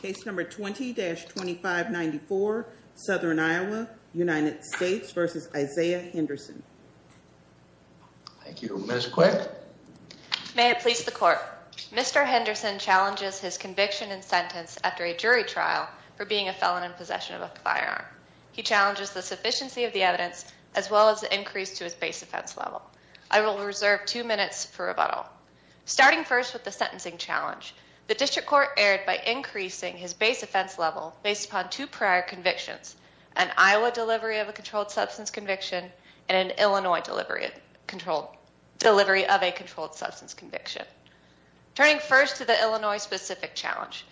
Case number 20-2594, Southern Iowa, United States v. Isaiah Henderson. Thank you. Ms. Quick. May it please the court. Mr. Henderson challenges his conviction and sentence after a jury trial for being a felon in possession of a firearm. He challenges the sufficiency of the evidence as well as the increase to his base offense level. I will reserve two minutes for rebuttal. Starting first with the sentencing challenge. The district court erred by increasing his base offense level based upon two prior convictions, an Iowa delivery of a controlled substance conviction and an Illinois delivery of a controlled substance conviction. Turning first to the Illinois specific challenge,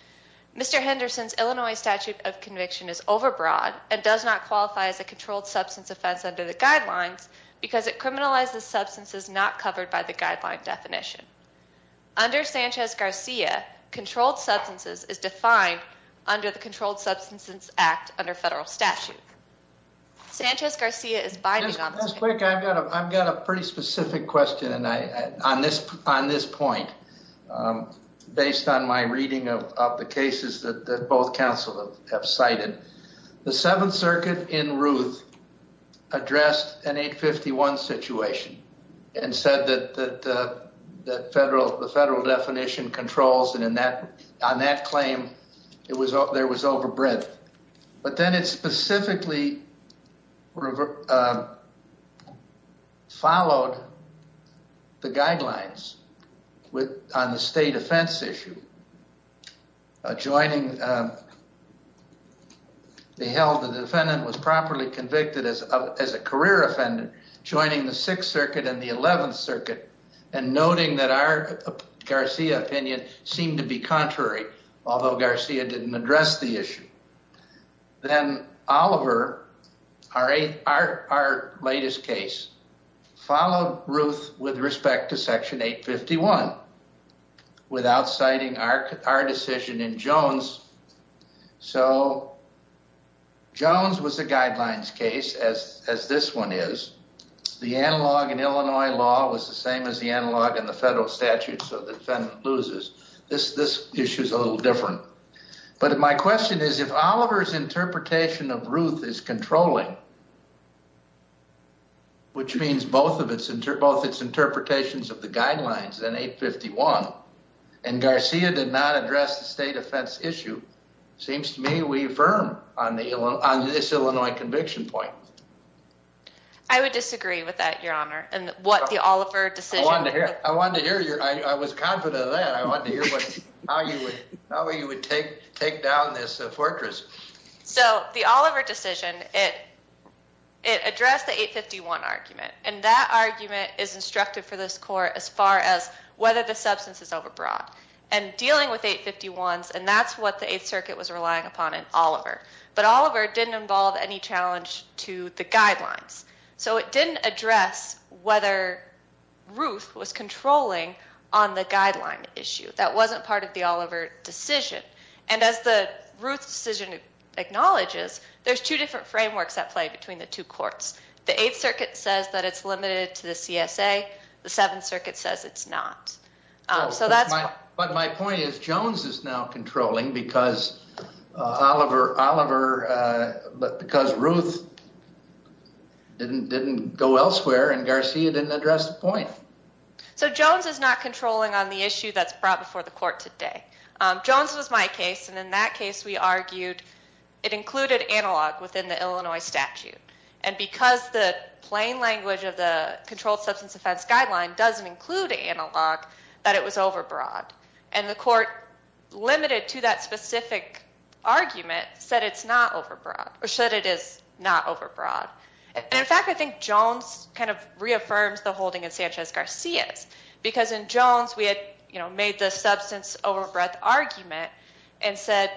Mr. Henderson's Illinois statute of conviction is overbroad and does not qualify as a controlled substance offense under the guidelines because it criminalizes substances not covered by the guideline definition. Under Sanchez-Garcia, controlled substances is defined under the Controlled Substances Act under federal statute. Sanchez-Garcia is binding on this. Ms. Quick, I've got a pretty specific question on this point based on my reading of the cases that both counsel have cited. The Seventh Circuit in Ruth addressed an 851 situation and said that the federal definition controls and on that claim there was overbreadth. But then it specifically followed the guidelines on the state offense issue. Joining, they held the defendant was properly convicted as a career offender joining the Sixth Circuit and the Eleventh Circuit and noting that our Garcia opinion seemed to be contrary, although Garcia didn't address the issue. Then Oliver, our latest case, followed Ruth with respect to section 851 without citing our decision in Jones. So, Jones was a guidelines case as this one is. The analog in Illinois law was the same as the analog in the federal statute so the defendant loses. This issue is a little different. But my question is if Oliver's interpretation of Ruth is controlling, which means both of its interpretations of the guidelines in 851 and Garcia did not address the state offense issue, seems to me we firm on this Illinois conviction point. I would disagree with that your honor and what the Oliver decision. I wanted to hear your, I was confident of that. I wanted to hear how you would take down this fortress. So the Oliver decision, it addressed the 851 argument and that argument is instructive for this court as far as whether the substance is overbrought and dealing with 851s and that's what the Eighth Circuit was relying upon in Oliver. But Oliver didn't involve any challenge to the guidelines. So it didn't address whether Ruth was controlling on the guideline issue. That wasn't part of the Oliver decision. And as the Ruth decision acknowledges, there's two different frameworks at play between the two courts. The Eighth Circuit says that it's limited to the CSA. The Seventh Circuit says it's not. So that's my, but my point is Jones is now controlling because Oliver, but because Ruth didn't go elsewhere and Garcia didn't address the point. So Jones is not controlling on the issue that's brought before the court today. Jones was my case and in that case we argued it included analog within the Illinois statute. And because the plain language of the controlled substance offense guideline doesn't include analog, that it was overbrought. And the court limited to that specific argument said it's not overbrought or said it is not overbroad. And in fact I think Jones kind of reaffirms the holding in Sanchez-Garcia's because in Jones we had, you know, made the substance overbreadth argument and said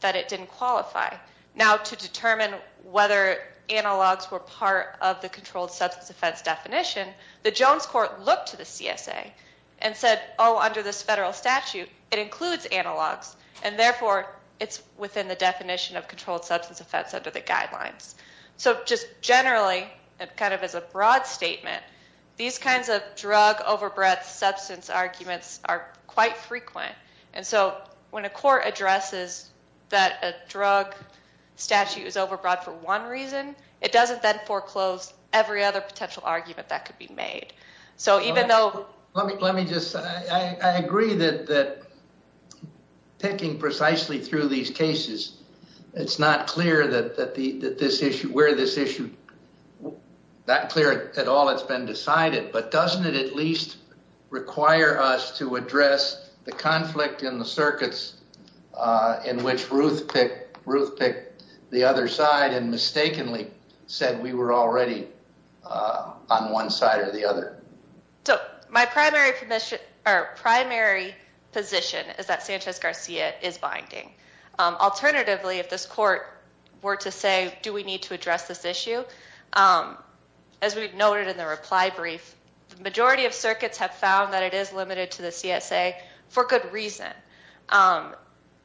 that it didn't qualify. Now to determine whether analogs were part of the controlled substance offense definition, the Jones court looked to the CSA and said, oh under this federal statute it includes analogs and therefore it's within the definition of controlled substance offense under the guidelines. So just generally and kind of as a broad statement, these kinds of drug overbreadth substance arguments are quite frequent. And so when a court addresses that a drug statute is overbroad for one reason, it doesn't then foreclose every other potential argument that could be made. So even though... Let me just, I agree that picking precisely through these cases, it's not clear that this issue, where this issue... Not clear at all it's been decided, but doesn't it at least require us to address the conflict in the circuits in which Ruth picked the other side and mistakenly said we were already on one side or the Alternatively, if this court were to say, do we need to address this issue? As we've noted in the reply brief, the majority of circuits have found that it is limited to the CSA for good reason.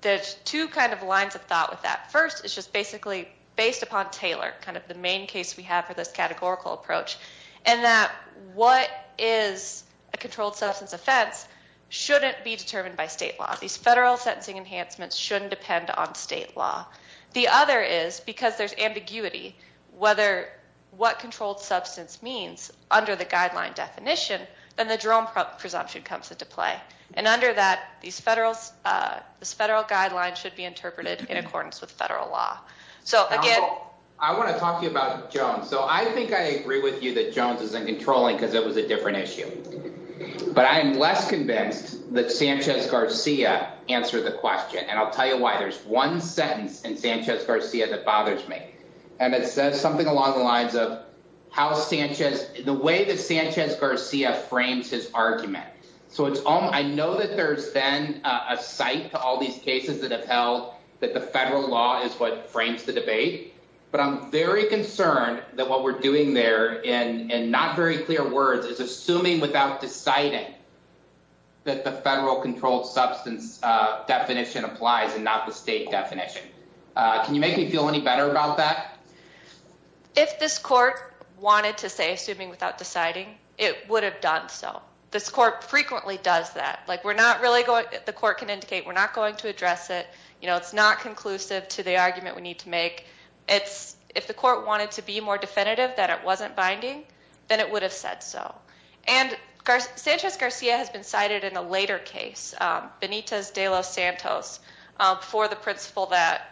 There's two kind of lines of thought with that. First, it's just basically based upon Taylor, kind of the main case we have for this categorical approach, and that what is a controlled substance offense shouldn't be determined by state law. These federal sentencing enhancements shouldn't depend on state law. The other is because there's ambiguity whether what controlled substance means under the guideline definition, then the Jerome presumption comes into play. And under that, these federal guidelines should be interpreted in accordance with federal law. So again... I want to talk to you about Jones. So I think I agree with you that Jones isn't controlling because it was a different issue. But I am less convinced that Sanchez Garcia answered the question. And I'll tell you why. There's one sentence in Sanchez Garcia that bothers me. And it says something along the lines of how Sanchez, the way that Sanchez Garcia frames his argument. So it's all I know that there's then a site to all these cases that have held that the federal law is what frames the debate. But I'm very concerned that what we're doing there and not very clear words is assuming without deciding that the federal controlled substance definition applies and not the state definition. Can you make me feel any better about that? If this court wanted to say assuming without deciding, it would have done so. This court frequently does that. The court can indicate we're not going to address it. It's not conclusive to the argument we need to make. If the court wanted to be more definitive that it wasn't binding, then it would have said so. And Sanchez Garcia has been cited in a later case, Benitez de los Santos, for the principle that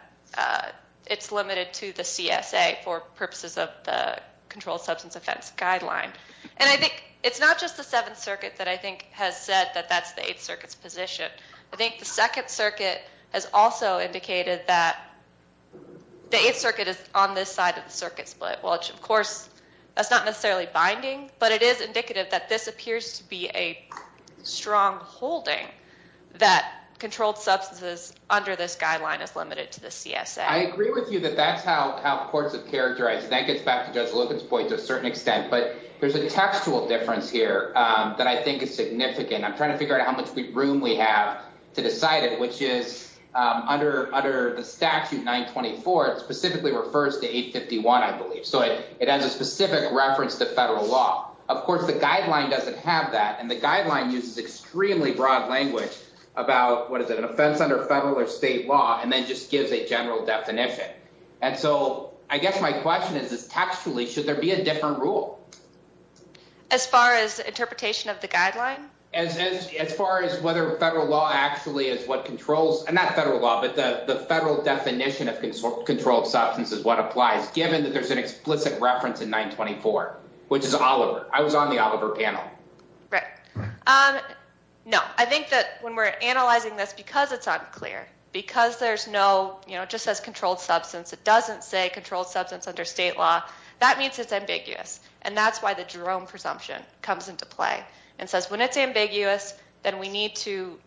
it's limited to the CSA for purposes of the controlled substance offense guideline. And I think it's not just the Seventh Circuit that I think has said that that's the Eighth Circuit's position. I think the Second Circuit has also indicated that the Eighth Circuit is on this side of the circuit split, which of course that's not necessarily binding. But it is indicative that this appears to be a strong holding that controlled substances under this guideline is limited to the CSA. I agree with you that that's how courts have characterized. That gets back to Judge Logan's point to a certain extent. But there's a textual difference here that I think is significant. I'm trying to figure out how much room we have to decide it, which is under the statute 924, it specifically refers to 851, I believe. So it has a specific reference to federal law. Of course, the guideline doesn't have that. And the guideline uses extremely broad language about, what is it, an offense under federal or state law, and then just gives a general definition. And so I guess my question is, textually, should there be a different rule? As far as interpretation of the guideline? As far as whether federal law actually is what controls, and not federal law, but the federal definition of controlled substance is what applies, given that there's an explicit reference in 924, which is Oliver. I was on the Oliver panel. Right. No, I think that when we're analyzing this, because it's unclear, because there's no, you know, it just says controlled substance, it doesn't say controlled substance under state law, that means it's ambiguous. And that's why Jerome presumption comes into play, and says when it's ambiguous, then we need to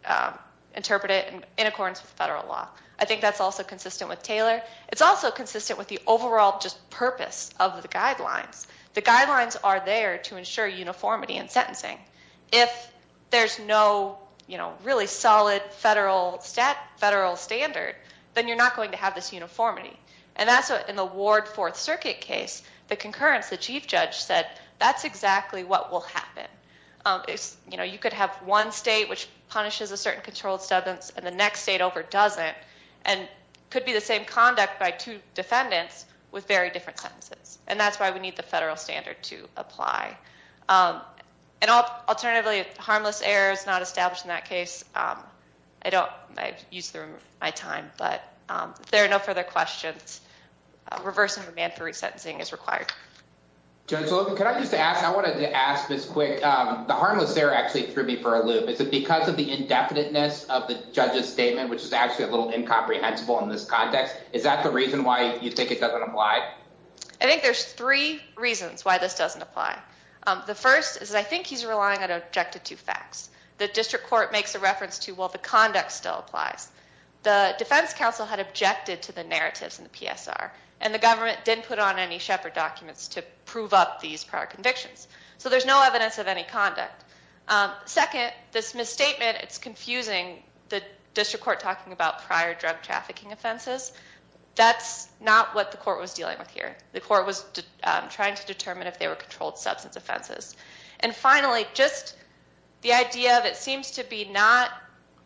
interpret it in accordance with federal law. I think that's also consistent with Taylor. It's also consistent with the overall just purpose of the guidelines. The guidelines are there to ensure uniformity in sentencing. If there's no, you know, really solid federal, federal standard, then you're not going to have this uniformity. And that's in the Ward Fourth Circuit case, the concurrence, the chief judge said, that's exactly what will happen. It's, you know, you could have one state which punishes a certain controlled substance, and the next state over doesn't, and could be the same conduct by two defendants with very different sentences. And that's why we need the federal standard to apply. And alternatively, harmless errors not established in that case, I don't, I've used through my time, but there are no further questions. Reversing command for resentencing is required. Judge Logan, can I just ask, I wanted to ask this quick, the harmless error actually threw me for a loop. Is it because of the indefiniteness of the judge's statement, which is actually a little incomprehensible in this context? Is that the reason why you think it doesn't apply? I think there's three reasons why this doesn't apply. The first is, I think he's relying on objective two facts. The district court makes a reference to, well, the conduct still applies. The defense counsel had objected to the narratives in the PSR, and the government didn't put on any Shepard documents to prove up these prior convictions. So there's no evidence of any conduct. Second, this misstatement, it's confusing the district court talking about prior drug trafficking offenses. That's not what the court was dealing with here. The court was trying to determine if they were controlled substance offenses. And finally, just the idea of it seems to be not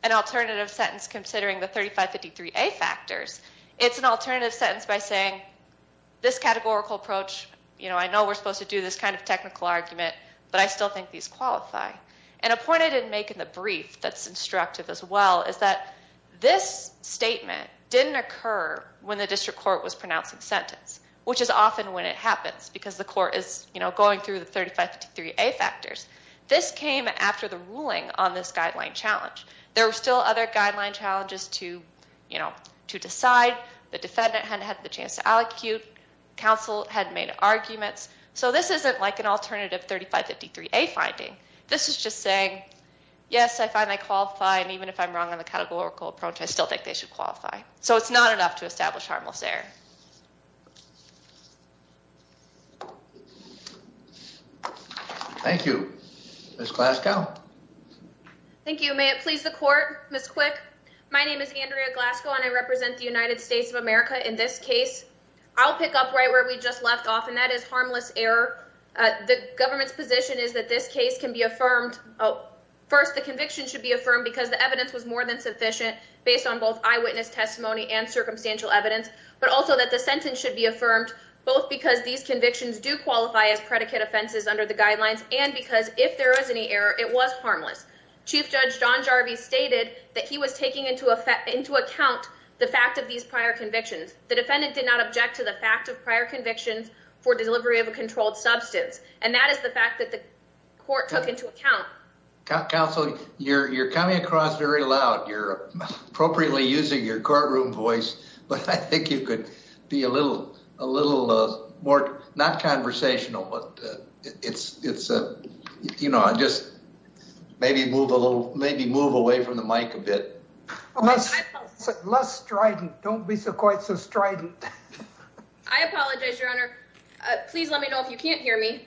an alternative sentence considering the 3553A factors. It's an alternative sentence by saying this categorical approach, you know, I know we're supposed to do this kind of technical argument, but I still think these qualify. And a point I didn't make in the brief that's instructive as well is that this statement didn't occur when the district court was pronouncing sentence, which is often when it happens, because the court is, you know, going through the 3553A factors. This came after the ruling on this guideline challenge. There were still other guideline challenges to, you know, to decide. The defendant hadn't had the chance to allocate. Counsel hadn't made arguments. So this isn't like an alternative 3553A finding. This is just saying, yes, I find they qualify, and even if I'm wrong on the categorical approach, I still think they should be. Ms. Glasgow. Thank you. May it please the court, Ms. Quick. My name is Andrea Glasgow, and I represent the United States of America in this case. I'll pick up right where we just left off, and that is harmless error. The government's position is that this case can be affirmed, oh, first the conviction should be affirmed because the evidence was more than sufficient based on both eyewitness testimony and circumstantial evidence, but also that the sentence should be affirmed both because these convictions do qualify as predicate offenses under the guidelines and because if there is any error, it was harmless. Chief Judge John Jarvis stated that he was taking into account the fact of these prior convictions. The defendant did not object to the fact of prior convictions for delivery of a controlled substance, and that is the fact that the court took into account. Counsel, you're coming across very loud. You're appropriately using your courtroom voice, but I think you could be a little more, not conversational, but just maybe move away from the mic a bit. Less strident. Don't be quite so strident. I apologize, Your Honor. Please let me know if you can't hear me.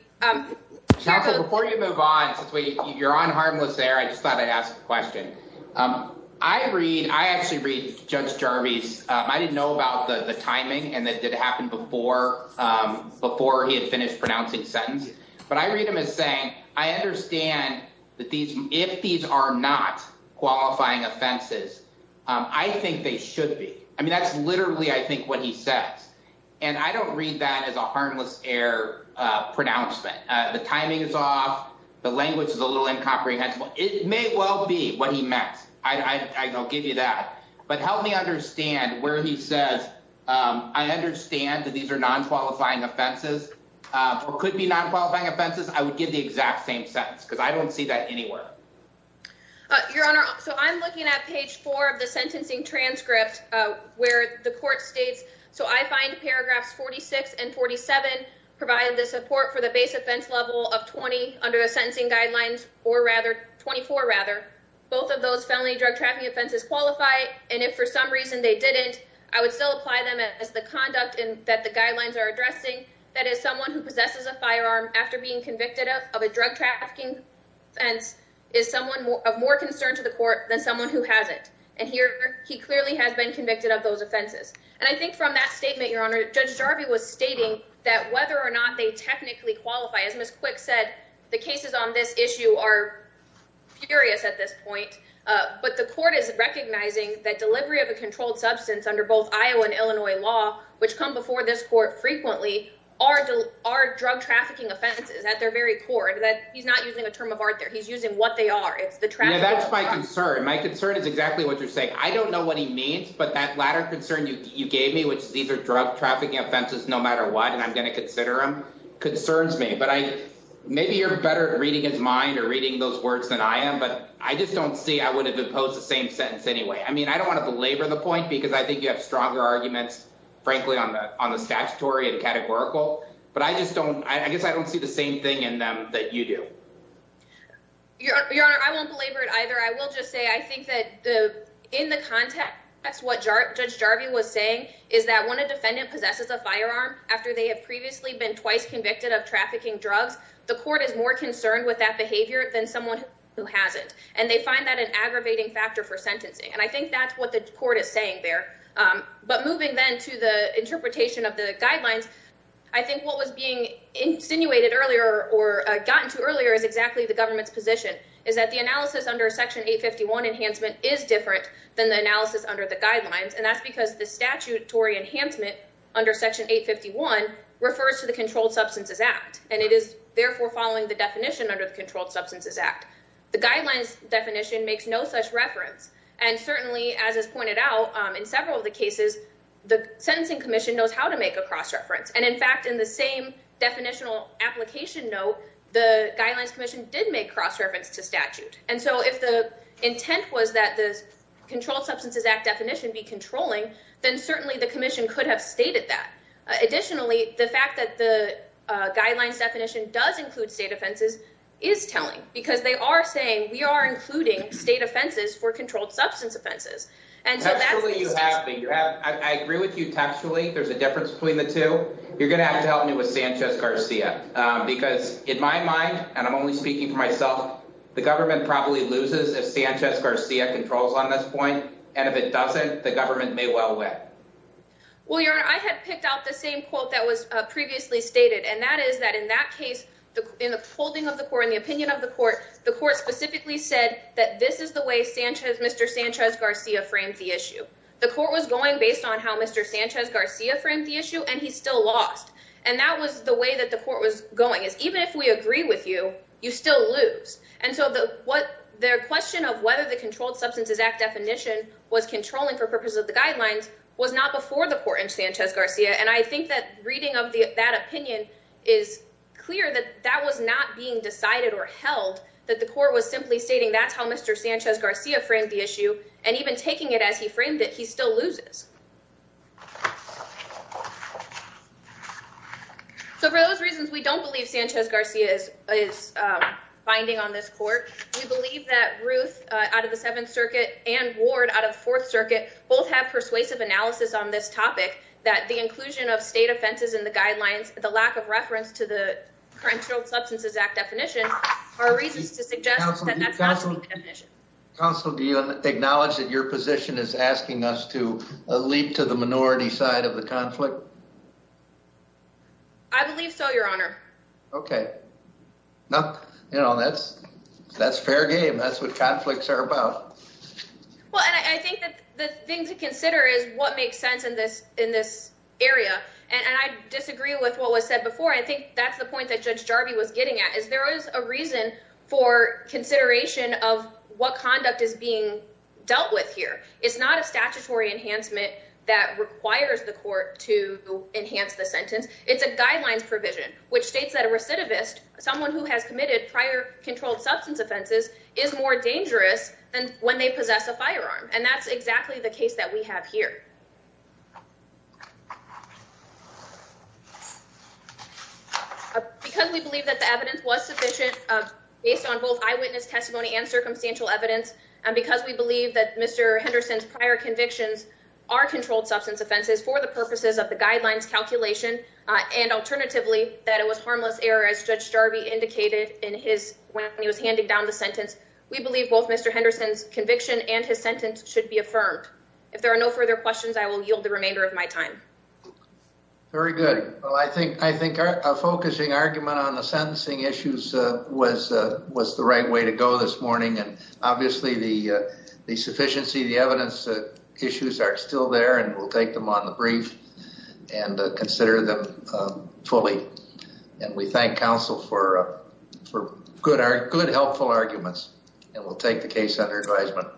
Counsel, before you move on, since you're on harmless error, I just thought I'd ask a question. I actually read Judge Jarvis. I didn't know about the timing and that it happened before he had finished pronouncing the sentence, but I read him as saying, I understand that if these are not qualifying offenses, I think they should be. I mean, that's literally, I think, what he says, and I don't read that as a harmless error pronouncement. The timing is off. The language is a little incomprehensible. It may well be what he meant. I'll give you that, but help me understand where he says, I understand that these are non-qualifying offenses or could be non-qualifying offenses. I would give the exact same sentence because I don't see that anywhere. Your Honor, so I'm looking at page four of the sentencing transcript where the court states, so I find paragraphs 46 and 47 provide the support for the base offense level of 20 under the sentencing guidelines or rather 24 rather. Both of those felony drug trafficking offenses qualify, and if for some reason they didn't, I would still apply them as the conduct that the guidelines are addressing. That is, someone who possesses a firearm after being convicted of a drug trafficking offense is someone of more concern to the court than someone who hasn't, and here he clearly has been convicted of those offenses, and I think from that statement, Your Honor, Judge Jarvis was stating that whether or not they technically qualify, as Ms. Quick said, the cases on this that delivery of a controlled substance under both Iowa and Illinois law, which come before this court frequently, are drug trafficking offenses at their very core. He's not using a term of art there. He's using what they are. It's the traffic. That's my concern. My concern is exactly what you're saying. I don't know what he means, but that latter concern you gave me, which these are drug trafficking offenses no matter what, and I'm going to consider them, concerns me, but maybe you're better at reading his mind or reading those words than I am, but I just don't see I would have imposed the same sentence anyway. I mean, I don't want to belabor the point because I think you have stronger arguments, frankly, on the statutory and categorical, but I just don't. I guess I don't see the same thing in them that you do. Your Honor, I won't belabor it either. I will just say I think that in the context, that's what Judge Jarvis was saying, is that when a defendant possesses a firearm after they have previously been twice convicted of trafficking drugs, the court is more concerned with that and they find that an aggravating factor for sentencing, and I think that's what the court is saying there, but moving then to the interpretation of the guidelines, I think what was being insinuated earlier or gotten to earlier is exactly the government's position, is that the analysis under Section 851 enhancement is different than the analysis under the guidelines, and that's because the statutory enhancement under Section 851 refers to the Controlled Substances Act, and it is therefore following the definition under the Controlled Substances Act. The guidelines definition makes no such reference, and certainly, as is pointed out in several of the cases, the Sentencing Commission knows how to make a cross-reference, and in fact, in the same definitional application note, the Guidelines Commission did make cross reference to statute, and so if the intent was that the Controlled Substances Act definition be controlling, then certainly the Commission could have stated that. Additionally, the fact that the guidelines definition does include state offenses is telling because they are saying, we are including state offenses for controlled substance offenses, and so that's the statute. I agree with you textually. There's a difference between the two. You're going to have to help me with Sanchez-Garcia, because in my mind, and I'm only speaking for myself, the government probably loses if Sanchez-Garcia controls on this point, and if it doesn't, the government may well win. Well, Your Honor, I had picked out the same quote that was previously stated, and that is that in that case, in the holding of the court, in the opinion of the court, the court specifically said that this is the way Mr. Sanchez-Garcia framed the issue. The court was going based on how Mr. Sanchez-Garcia framed the issue, and he still lost, and that was the way that the court was going, is even if we agree with you, you still lose, and so the question of whether the Controlled Substances Act definition was controlling for purposes of the guidelines was not before the court in Sanchez-Garcia, and I think that reading that opinion is clear that that was not being decided or held, that the court was simply stating that's how Mr. Sanchez-Garcia framed the issue, and even taking it as he framed it, he still loses. So for those reasons, we don't believe Sanchez-Garcia is binding on this court. We believe that Ruth, out of the Seventh Circuit, and Ward, out of the Fourth Circuit, both have persuasive analysis on this topic, that the inclusion of state offenses in the guidelines, the lack of reference to the Controlled Substances Act definition, are reasons to suggest that that's not the definition. Counsel, do you acknowledge that your position is asking us to leap to the minority side of the conflict? I believe so, Your Honor. Okay. No, you know, that's fair game. That's what conflicts are about. Well, and I think that the thing to consider is what makes sense in this area, and I disagree with what was said before. I think that's the point that Judge Jarvie was getting at, is there is a reason for consideration of what conduct is being dealt with here. It's not a statutory enhancement that requires the court to enhance the sentence. It's a guidelines provision, which states that a recidivist, someone who has committed prior substance offenses, is more dangerous than when they possess a firearm. And that's exactly the case that we have here. Because we believe that the evidence was sufficient based on both eyewitness testimony and circumstantial evidence, and because we believe that Mr. Henderson's prior convictions are controlled substance offenses for the purposes of the guidelines calculation, and alternatively, that it was harmless error as Judge Jarvie indicated when he was handing down the sentence, we believe both Mr. Henderson's conviction and his sentence should be affirmed. If there are no further questions, I will yield the remainder of my time. Very good. Well, I think a focusing argument on the sentencing issues was the right way to go this morning, and obviously the sufficiency, the evidence issues are still there, and we'll take them on the brief and consider them fully. And we thank counsel for good, helpful arguments, and we'll take the case under advisement.